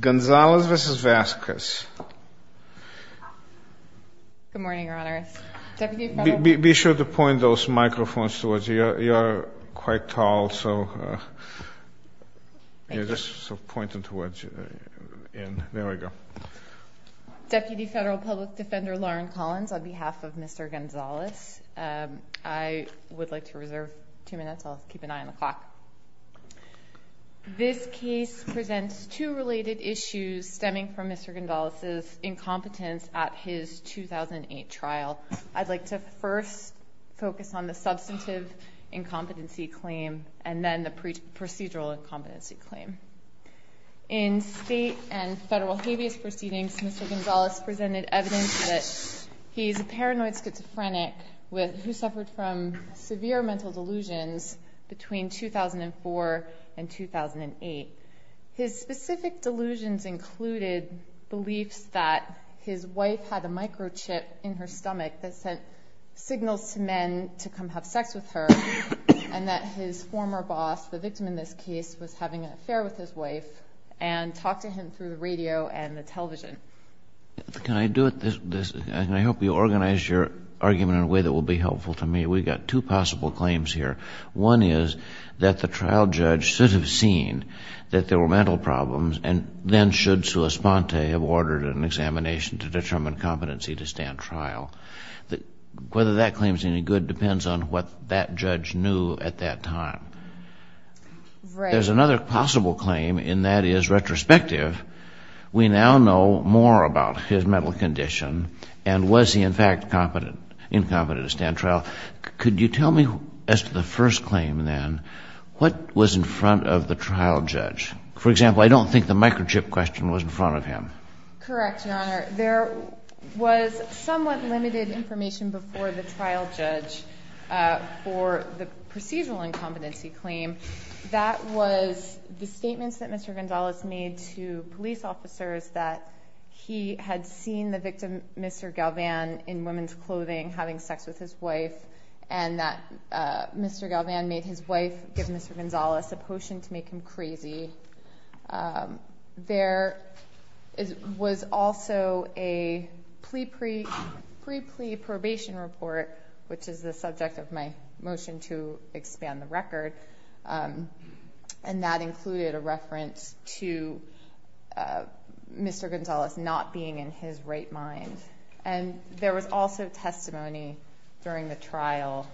Gonzalez v. Vazquez. Be sure to point those microphones towards you. You're quite tall so you're just pointing towards you. There we go. Deputy Federal Public Defender Lauren Collins on behalf of Mr. Gonzalez. I would like to reserve two minutes. I'll keep an eye on the clock. This case presents two related issues stemming from Mr. Gonzalez's incompetence at his 2008 trial. I'd like to first focus on the substantive incompetency claim and then the procedural incompetency claim. In state and federal habeas proceedings, Mr. Gonzalez presented evidence that he's a paranoid schizophrenic who suffered from severe mental delusions between 2004 and 2008. His specific delusions included beliefs that his wife had a microchip in her stomach that sent signals to men to come have sex with her and that his former boss, the victim in this case, was having an affair with his wife and talked to him through the radio and the television. Can I do it this and I hope you organize your argument in a way that will be helpful to me. We've got two possible claims here. One is that the trial judge should have seen that there were mental problems and then should Sulis-Ponte have ordered an examination to determine competency to stand trial. Whether that claim is any good depends on what that judge knew at that time. There's another possible claim and that is retrospective. We now know more about his mental condition and was he in fact incompetent to stand trial. Could you tell me as to the first claim then, what was in front of the trial judge? For example, I don't think the microchip question was in front of him. Correct, Your Honor. There was somewhat limited information before the trial judge for the procedural incompetency claim. That was the statements that Mr. Gonzalez made to police officers that he had seen the victim, Mr. Galvan, in women's clothing having sex with his wife and that Mr. Galvan made his wife give Mr. Gonzalez a potion to make him crazy. There was also a pre-plea probation report, which is the subject of my motion to expand the record, and that included a reference to Mr. Gonzalez not being in his right mind. And there was also testimony during the trial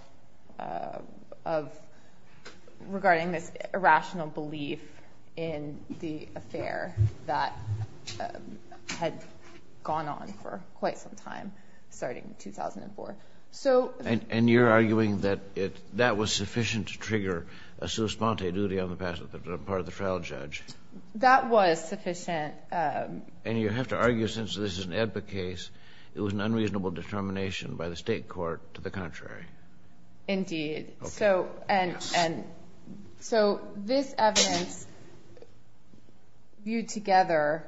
regarding this irrational belief in the affair that had gone on for quite some time, starting in 2004. And you're arguing that it that was sufficient to trigger a sus ponte duty on the part of the trial judge. That was sufficient. And you have to argue, since this is an AEDPA case, it was an unreasonable determination by the state court to the contrary. Indeed. So this evidence viewed together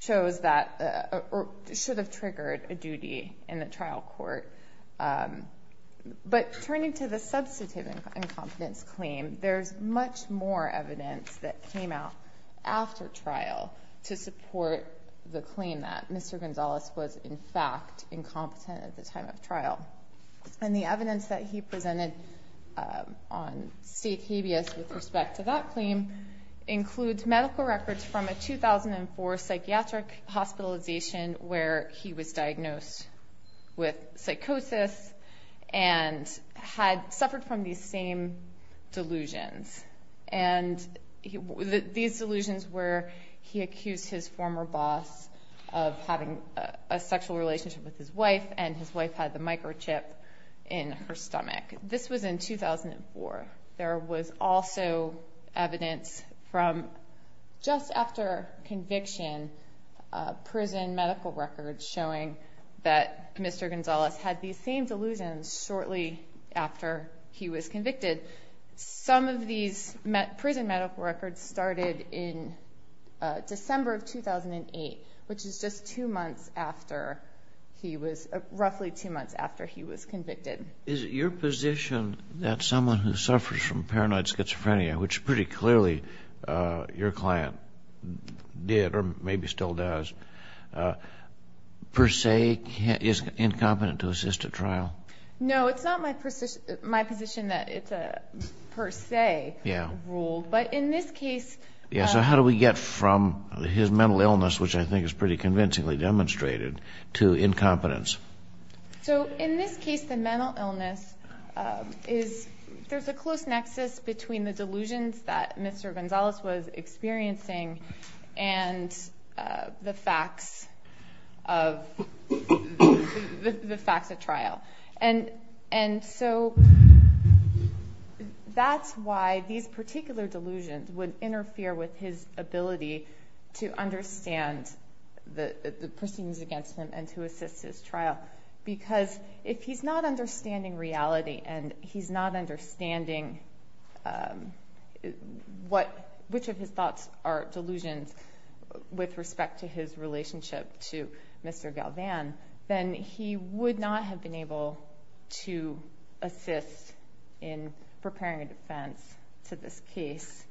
shows that it should have triggered a duty in the trial court. But turning to the substantive incompetence claim, there's much more evidence that came out after trial to support the claim that Mr. Gonzalez was in fact incompetent at the time of trial. And the evidence that he presented on state habeas with respect to that claim includes medical records from a 2004 psychiatric hospitalization where he was diagnosed with psychosis and had suffered from these same delusions. And these delusions were he accused his former boss of having a sexual relationship with his wife and his wife had the microchip in her stomach. This was in 2004. There was also evidence from just after conviction, prison medical records showing that Mr. Gonzalez had these same delusions shortly after he was convicted. Some of these prison medical records started in December of 2008, which is just two months after he was, roughly two months after he was convicted. Is it your position that someone who suffers from paranoid schizophrenia, which pretty clearly your still does, per se is incompetent to assist at trial? No, it's not my position that it's a per se rule. But in this case... Yeah, so how do we get from his mental illness, which I think is pretty convincingly demonstrated, to incompetence? So in this case the mental illness is, there's a close nexus between the delusions that Mr. Gonzalez was experiencing and the facts of the facts at trial. And so that's why these particular delusions would interfere with his ability to understand the proceedings against him and to assist his trial. Because if he's not understanding reality and he's not understanding which of his thoughts are delusions with respect to his relationship to Mr. Galvan, then he would not have been able to assist in preparing a defense to this case.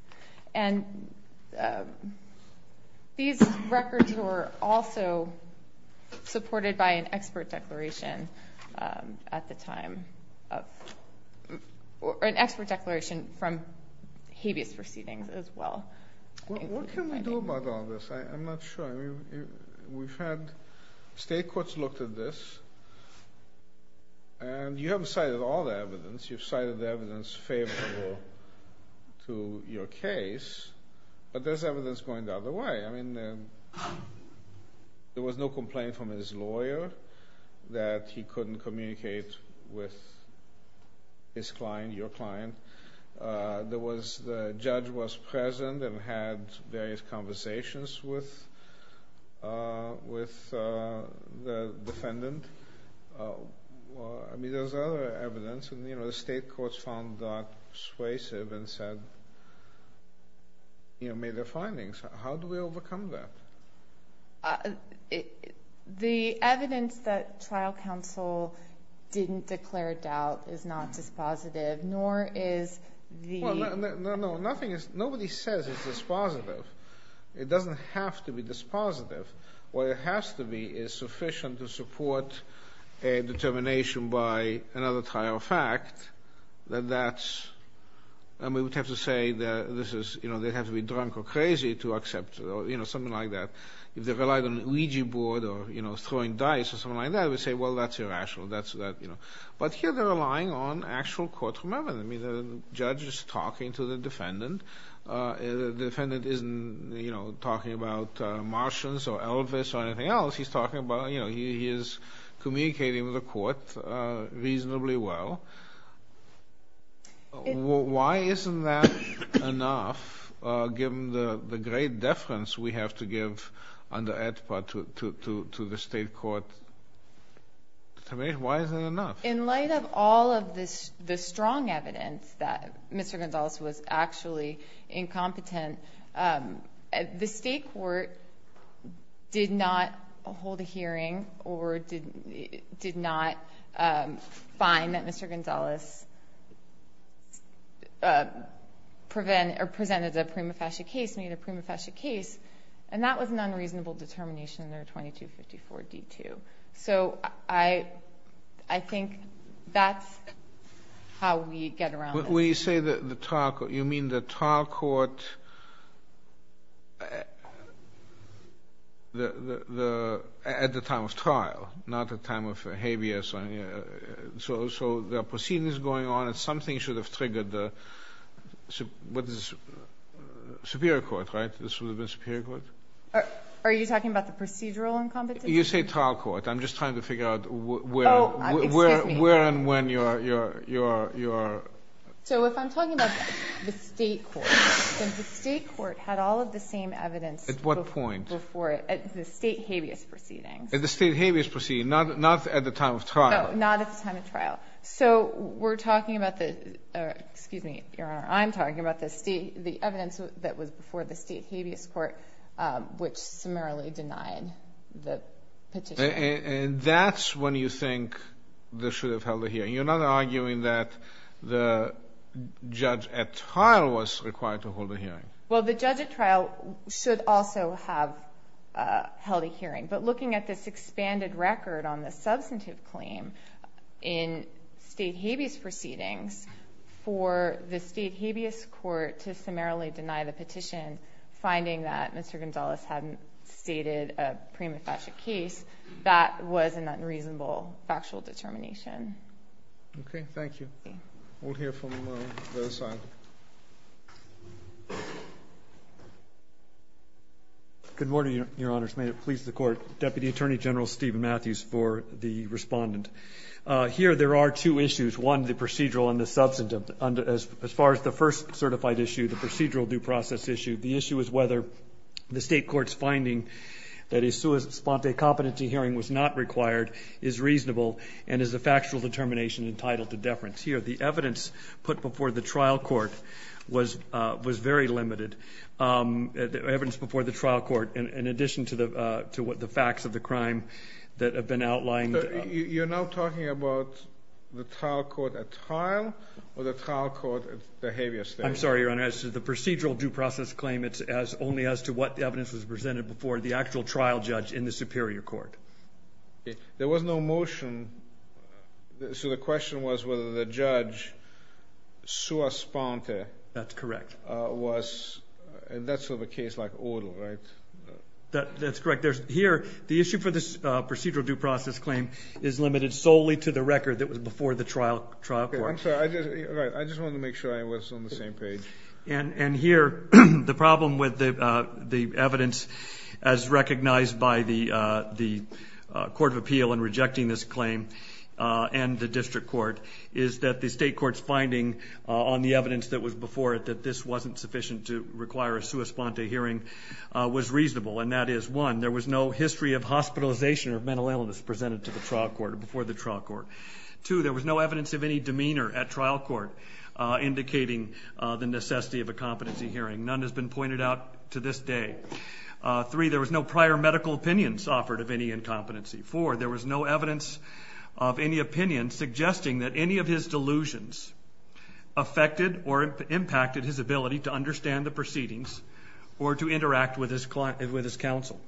And these records were also supported by an expert declaration at the time, an expert declaration from habeas proceedings as well. What can we do about all this? I'm not sure. We've had, state courts looked at this, and you haven't cited all the evidence. You've cited the evidence favorable to your case, but there's evidence going the other way. I mean, there was no complaint from his lawyer that he couldn't communicate with his client, your client. There was, the judge was present and had various conversations with the defendant. I mean, there's other evidence, and you know, the state courts found that persuasive and said, you know, made their findings. How do we overcome that? The evidence that trial counsel didn't declare doubt is not dispositive, nor is the... No, no, no, nothing is, nobody says it's dispositive. It doesn't have to be dispositive. What it has to be is sufficient to support a determination by another trial fact that that's, and we would have to say that this is, you know, they'd have to be drunk or crazy to accept, you know, something like that. If they relied on Ouija board or, you know, throwing dice or something like that, we'd say, well, that's irrational. That's, you know, but here they're relying on actual court memorandum. I mean, the judge is talking to the defendant. The defendant isn't, you know, talking about Martians or Elvis or anything else. He's talking about, you know, he is communicating with the people. Why isn't that enough, given the great deference we have to give under AEDPA to the state court? Why isn't it enough? In light of all of this, the strong evidence that Mr. Gonzales was actually incompetent, the state court did not hold that Mr. Gonzales presented a prima facie case, made a prima facie case, and that was an unreasonable determination under 2254 D2. So I think that's how we get around this. When you say the trial court, you mean the trial court at the time of trial, not at time of habeas. So the proceeding is going on, and something should have triggered the superior court, right? This would have been superior court? Are you talking about the procedural incompetence? You say trial court. I'm just trying to figure out where and when you're... So if I'm talking about the state court, then the state court had all of the same evidence before it at the state habeas proceedings. At the state habeas proceedings, not at the time of trial. No, not at the time of trial. So we're talking about the, excuse me, Your Honor, I'm talking about the evidence that was before the state habeas court, which summarily denied the petition. And that's when you think they should have held a hearing. You're not arguing that the judge at trial was required to hold a hearing. Well, the judge at trial should also have held a hearing. But looking at this expanded record on the substantive claim in state habeas proceedings for the state habeas court to summarily deny the petition, finding that Mr. Gonzalez hadn't stated a prima facie case, that was an unreasonable factual determination. Okay. Thank you. We'll hear from the other side. Good morning, Your Honors. May it please the Court. Deputy Attorney General Stephen Matthews for the respondent. Here there are two issues. One, the procedural and the substantive. As far as the first certified issue, the procedural due process issue, the issue is whether the state court's finding that a sua sponte competency hearing was not required is reasonable and is a factual determination entitled to deference. Here, the evidence put before the trial court was very limited. Evidence before the trial court, in addition to what the facts of the crime that have been outlined. So you're now talking about the trial court at trial or the trial court at the habeas court? I'm sorry, Your Honor. As to the procedural due process claim, it's only as to what the evidence was presented before the actual trial judge in the superior court. There was no motion. So the question was whether the judge sua sponte. That's correct. That's sort of a case like order, right? That's correct. Here, the issue for this procedural due process claim is limited solely to the record that was before the trial court. I'm sorry. I just wanted to make sure I was on the same page. And here, the problem with the evidence as recognized by the court of appeal in rejecting this claim and the district court is that the state court's finding on the evidence that was before it that this wasn't sufficient to require a sua sponte hearing was reasonable. And that is, one, there was no history of hospitalization or mental illness presented before the trial court. Two, there was no evidence of any demeanor at trial court indicating the necessity of a competency hearing. None has been pointed out to this day. Three, there was no prior medical opinions offered of any incompetency. Four, there was no evidence of any opinion suggesting that any of his delusions affected or impacted his ability to understand the proceedings or to interact with his counsel.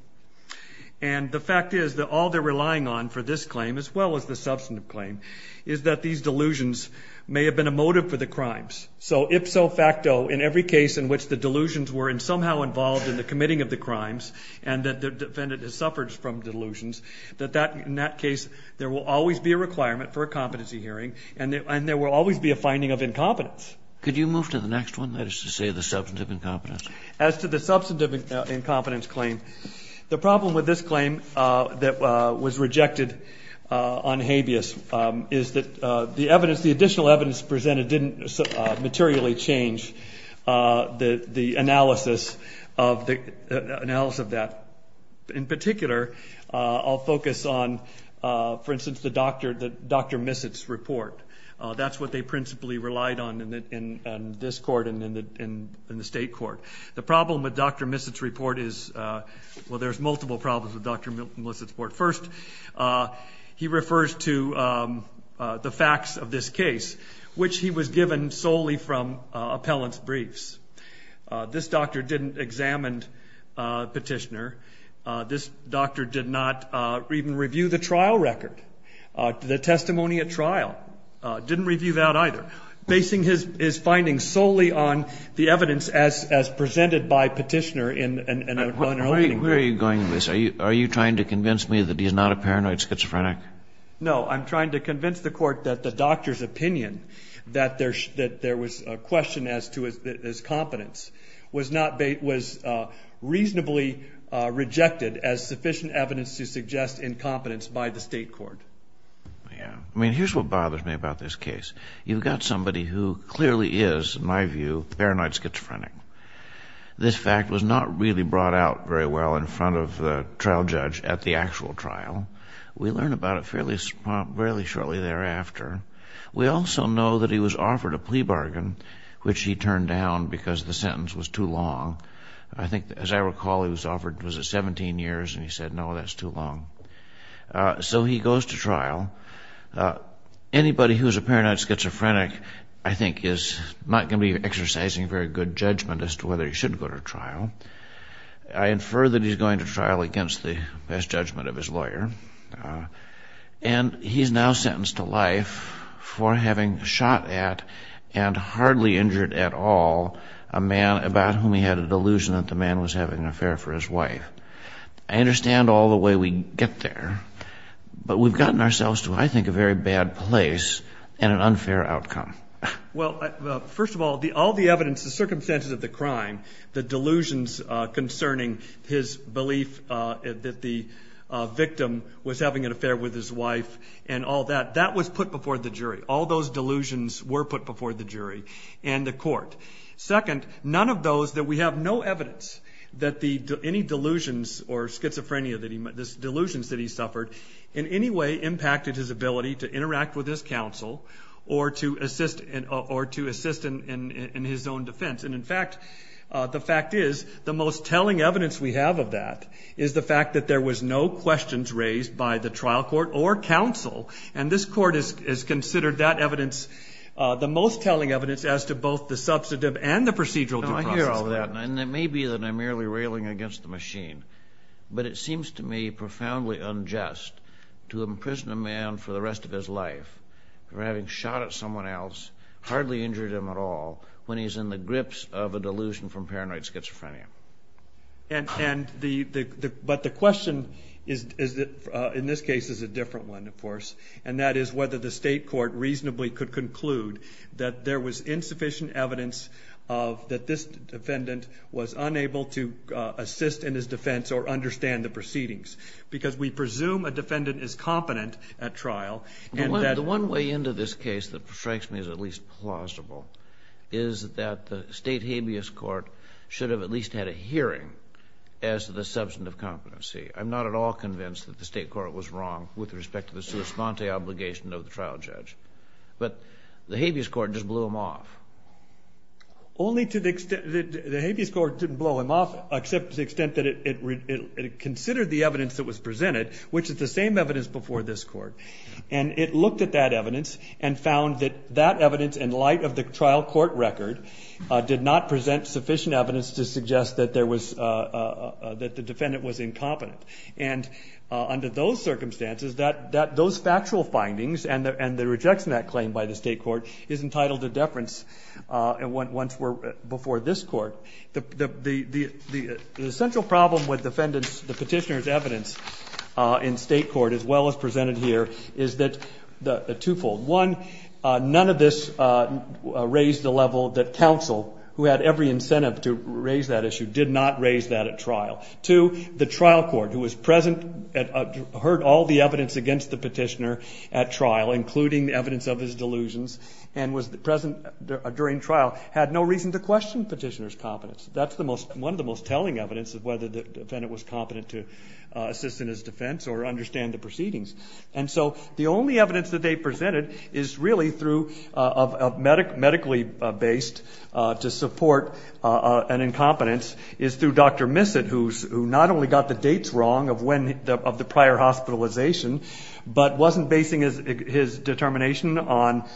And the fact is that all they're relying on for this claim, as well as the substantive claim, is that these delusions may have been a motive for the crimes. So if so facto, in every case in which the delusions were somehow involved in the committing of the crimes and that the defendant has suffered from delusions, that in that case, there will always be a requirement for a competency hearing, and there will always be a finding of incompetence. Could you move to the next one, that is to say the substantive incompetence? As to the substantive incompetence claim, the problem with this claim that was rejected on habeas is that the additional evidence presented didn't materially change the analysis of that. In particular, I'll focus on, for instance, the Dr. Missett's report. That's what they principally relied on in this court and in the state court. The problem with Dr. Missett's report is, well, there's multiple problems with Dr. Missett's report. First, he refers to the facts of this case, which he was given solely from appellant's briefs. This doctor didn't examine Petitioner. This doctor did not even review the trial record, the testimony at trial. Didn't review that either, basing his findings solely on the evidence as presented by Petitioner in an unrelenting way. Where are you going with this? Are you trying to convince me that he's not a paranoid schizophrenic? No, I'm trying to convince the court that the doctor's opinion, that there was a question as to his competence, was reasonably rejected as sufficient evidence to suggest incompetence by the state court. Yeah. I mean, here's what bothers me about this case. You've got somebody who clearly is, in my view, paranoid schizophrenic. This fact was not really brought out very well in front of the trial judge at the actual trial. We learn about it fairly shortly thereafter. We also know that he was offered a plea bargain, which he turned down because the sentence was too long. I think, as I recall, he was offered, was it 17 years? And he said, no, that's too long. So he goes to trial. Anybody who's a paranoid schizophrenic, I think, is not going to be exercising very good judgment as to whether he should go to trial. I infer that he's going to trial against the best judgment of his lawyer. And he's now sentenced to life for having shot at, and hardly injured at all, a man about whom he had a delusion that the man was having an affair for his wife. I understand all the way we get there, but we've gotten ourselves to, I think, a very bad place and an unfair outcome. Well, first of all, all the evidence, the circumstances of the crime, the delusions concerning his belief that the victim was having an affair with his wife and all that, that was put before the jury. All those delusions were put before the jury and the court. Second, none of those, that we have no evidence that any delusions or schizophrenia, the delusions that he suffered, in any way impacted his ability to interact with his counsel or to assist in his own defense. And in fact, the fact is, the most telling evidence we have of that is the fact that there was no questions raised by the trial court or counsel. And this court has considered that evidence the most telling evidence as to both the substantive and the procedural due process. Now, I hear all that, and it may be that I'm merely railing against the machine, but it seems to me profoundly unjust to imprison a man for the rest of his life for having shot at someone else, hardly injured him at all, when he's in the grips of a delusion from paranoid schizophrenia. But the question is, in this case, is a different one, of course, and that is whether the state had sufficient evidence that this defendant was unable to assist in his defense or understand the proceedings. Because we presume a defendant is competent at trial, and that... The one way into this case that strikes me as at least plausible is that the state habeas court should have at least had a hearing as to the substantive competency. I'm not at all convinced that the state court was wrong with respect to the sua sponte obligation of the trial judge. But the habeas court just blew him off. Only to the extent that the habeas court didn't blow him off, except to the extent that it considered the evidence that was presented, which is the same evidence before this court. And it looked at that evidence and found that that evidence, in light of the trial court record, did not present sufficient evidence to suggest that there was... That the defendant was incompetent. And under those circumstances, that... And the rejection of that claim by the state court is entitled to deference, once we're... Before this court. The central problem with the petitioner's evidence in state court, as well as presented here, is that the twofold. One, none of this raised the level that counsel, who had every incentive to raise that issue, did not raise that at trial. Two, the trial court, who was present, heard all the evidence against the petitioner at trial, including evidence of his delusions, and was present during trial, had no reason to question petitioner's competence. That's one of the most telling evidence of whether the defendant was competent to assist in his defense or understand the proceedings. And so, the only evidence that they presented is really through, medically based, to support an incompetence, is through Dr. Missett, who not only got the dates wrong of when... But wasn't basing his determination on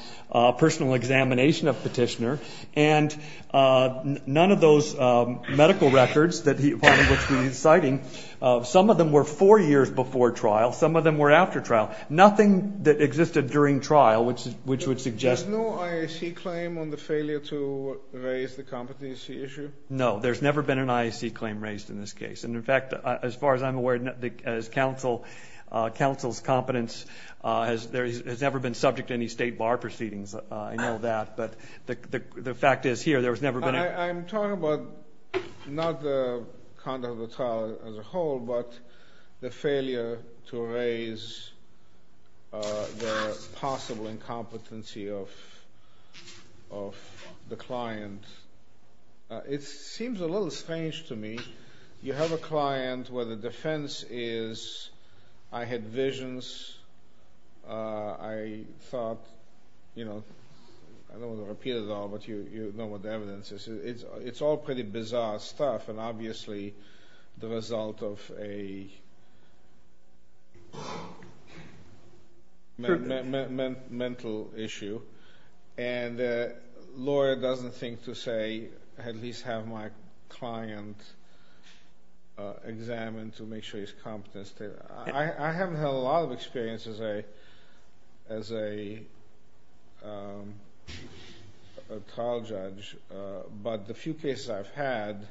personal examination of petitioner, and none of those medical records that he... Which he's citing, some of them were four years before trial, some of them were after trial. Nothing that existed during trial, which would suggest... There's no IAC claim on the failure to raise the competency issue? No, there's never been an IAC claim raised in this case. And in fact, as far as I'm aware, counsel's competence has never been subject to any state bar proceedings. I know that, but the fact is, here, there's never been... I'm talking about not the conduct of the trial as a whole, but the failure to raise the possible incompetency of the client. It seems a little strange to me. You have a client where the defense is, I had visions, I thought... I don't want to repeat it all, but you know what the evidence is. It's all pretty bizarre stuff, and obviously, the result of a mental issue. And the lawyer doesn't think to say, at least have my client examined to see if he's competent. I haven't had a lot of experience as a trial judge, but the few cases I've had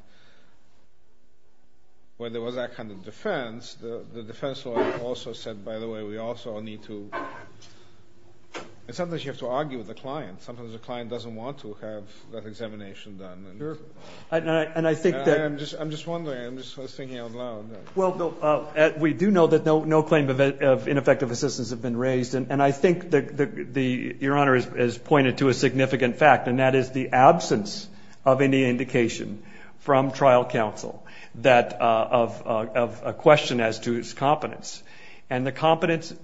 where there was that kind of defense, the defense lawyer also said, by the way, we also need to... And sometimes you have to argue with the client. Sometimes the client doesn't want to have that examination done. And I'm just wondering, I'm just thinking out loud. Well, Bill, we do know that no claim of ineffective assistance has been raised, and I think your Honor has pointed to a significant fact, and that is the absence of any indication from trial counsel of a question as to his competence. And the competence,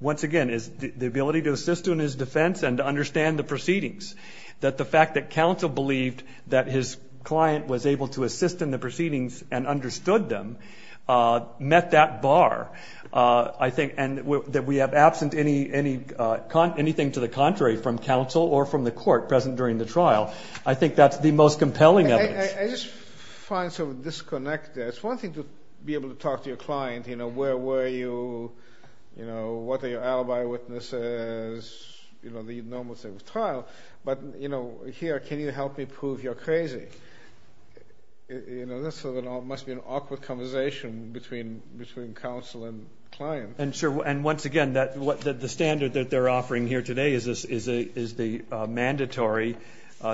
once again, is the ability to assist in his defense and to understand the proceedings. That the fact that counsel believed that his client was able to assist in the proceedings and understood them met that bar, I think, and that we have absent anything to the contrary from counsel or from the court present during the trial. I think that's the most compelling evidence. I just find some disconnect there. It's one thing to be able to talk to your client, you know, where were you, you know, what are your alibi witnesses, you know, the normal state of trial. But, you know, here, can you help me prove you're crazy? You know, this must be an awkward conversation between counsel and client. And once again, the standard that they're offering here today is the mandatory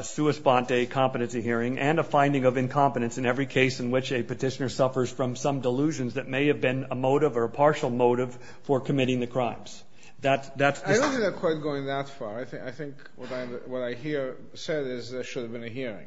sua sponte competency hearing and a finding of incompetence in every case in which a petitioner suffers from some delusions that may have been a motive or a partial motive for committing the crimes. I don't see the court going that far. I think what I hear said is there should have been a hearing.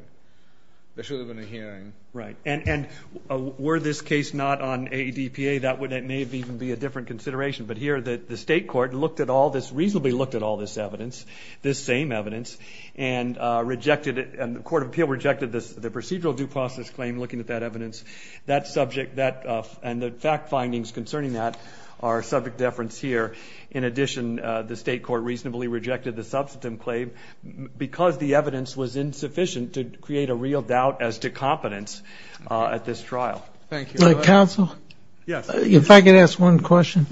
There should have been a hearing. Right. And were this case not on AEDPA, that may even be a different consideration. But here, the state court looked at all this, reasonably looked at all this evidence, this same evidence, and rejected it, and the Court of Appeal rejected the procedural due process claim looking at that evidence. That subject, that, and the fact findings concerning that are subject to deference here. In addition, the state court reasonably rejected the substantive claim because the evidence was insufficient to create a real doubt as to competence at this trial. Thank you. Counsel? Yes. If I could ask one question,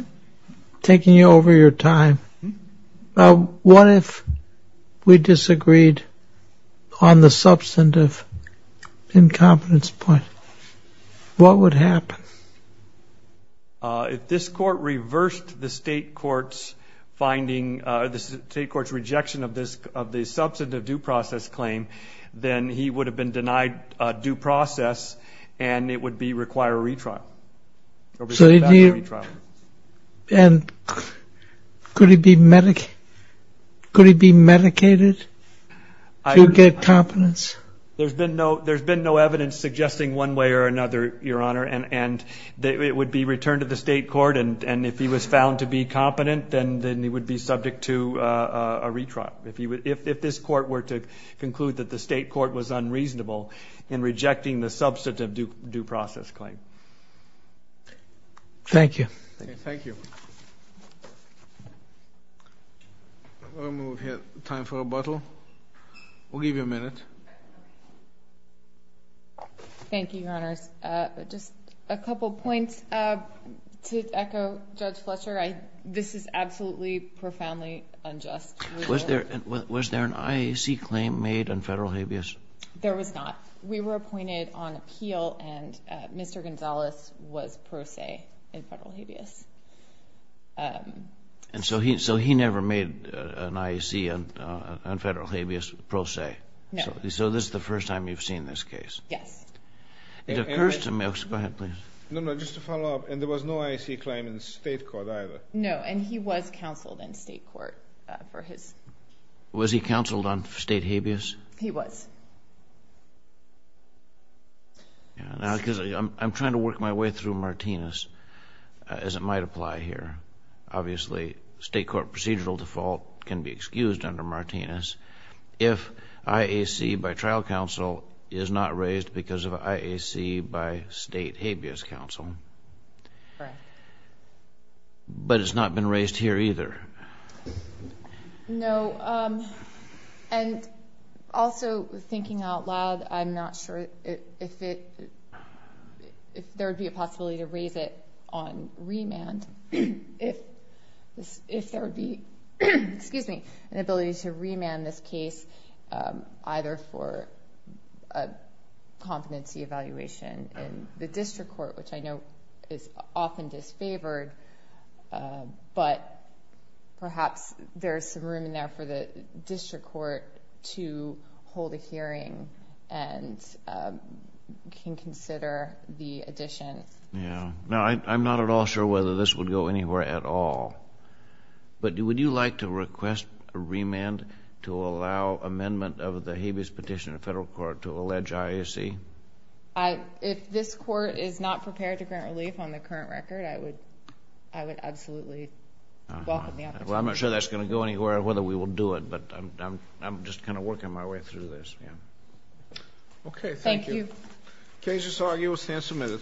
taking you over your time, what if we disagreed on the substantive incompetence point? What would happen? If this court reversed the state court's finding, the state court's rejection of the substantive due process claim, then he would have been denied due process, and it would require a retrial. And could he be medicated to get competence? There's been no evidence suggesting one way or another, Your Honor, and it would be returned to the state court, and if he was found to be competent, then he would be subject to a retrial. If this court were to conclude that the state court was unreasonable in rejecting the substantive due process claim. Thank you. Thank you. We'll move here. Time for rebuttal. We'll give you a minute. Thank you, Your Honors. Just a couple points. To echo Judge Fletcher, this is absolutely profoundly unjust. Was there an IAC claim made on federal habeas? There was not. We were appointed on appeal, and Mr. Gonzalez was pro se in federal habeas. And so he never made an IAC on federal habeas pro se? No. So this is the first time you've seen this case? Yes. It occurs to me... Go ahead, please. No, no, just to follow up. And there was no IAC claim in the state court either? No, and he was counseled in state court for his... Was he counseled on state habeas? He was. Now, because I'm trying to work my way through Martinez, as it might apply here. Obviously, state court procedural default can be excused under Martinez if IAC by trial counsel is not raised because of IAC by state habeas counsel. Correct. But it's not been raised here either? No. And also, thinking out loud, I'm not sure if there would be a possibility to raise it on remand, if there would be an ability to remand this case either for a competency evaluation in the district court, which I know is often disfavored, but perhaps there's some room in there for the district court to hold a hearing and can consider the addition. Yeah. Now, I'm not at all sure whether this would go anywhere at all, but would you like to request a remand to allow amendment of the habeas petition in federal court to allege IAC? If this court is not prepared to grant relief on the current record, I would absolutely welcome the opportunity. Well, I'm not sure that's going to go anywhere or whether we will do it, but I'm just kind of working my way through this, yeah. Okay, thank you. Thank you. Case is argued. We'll stand some minutes.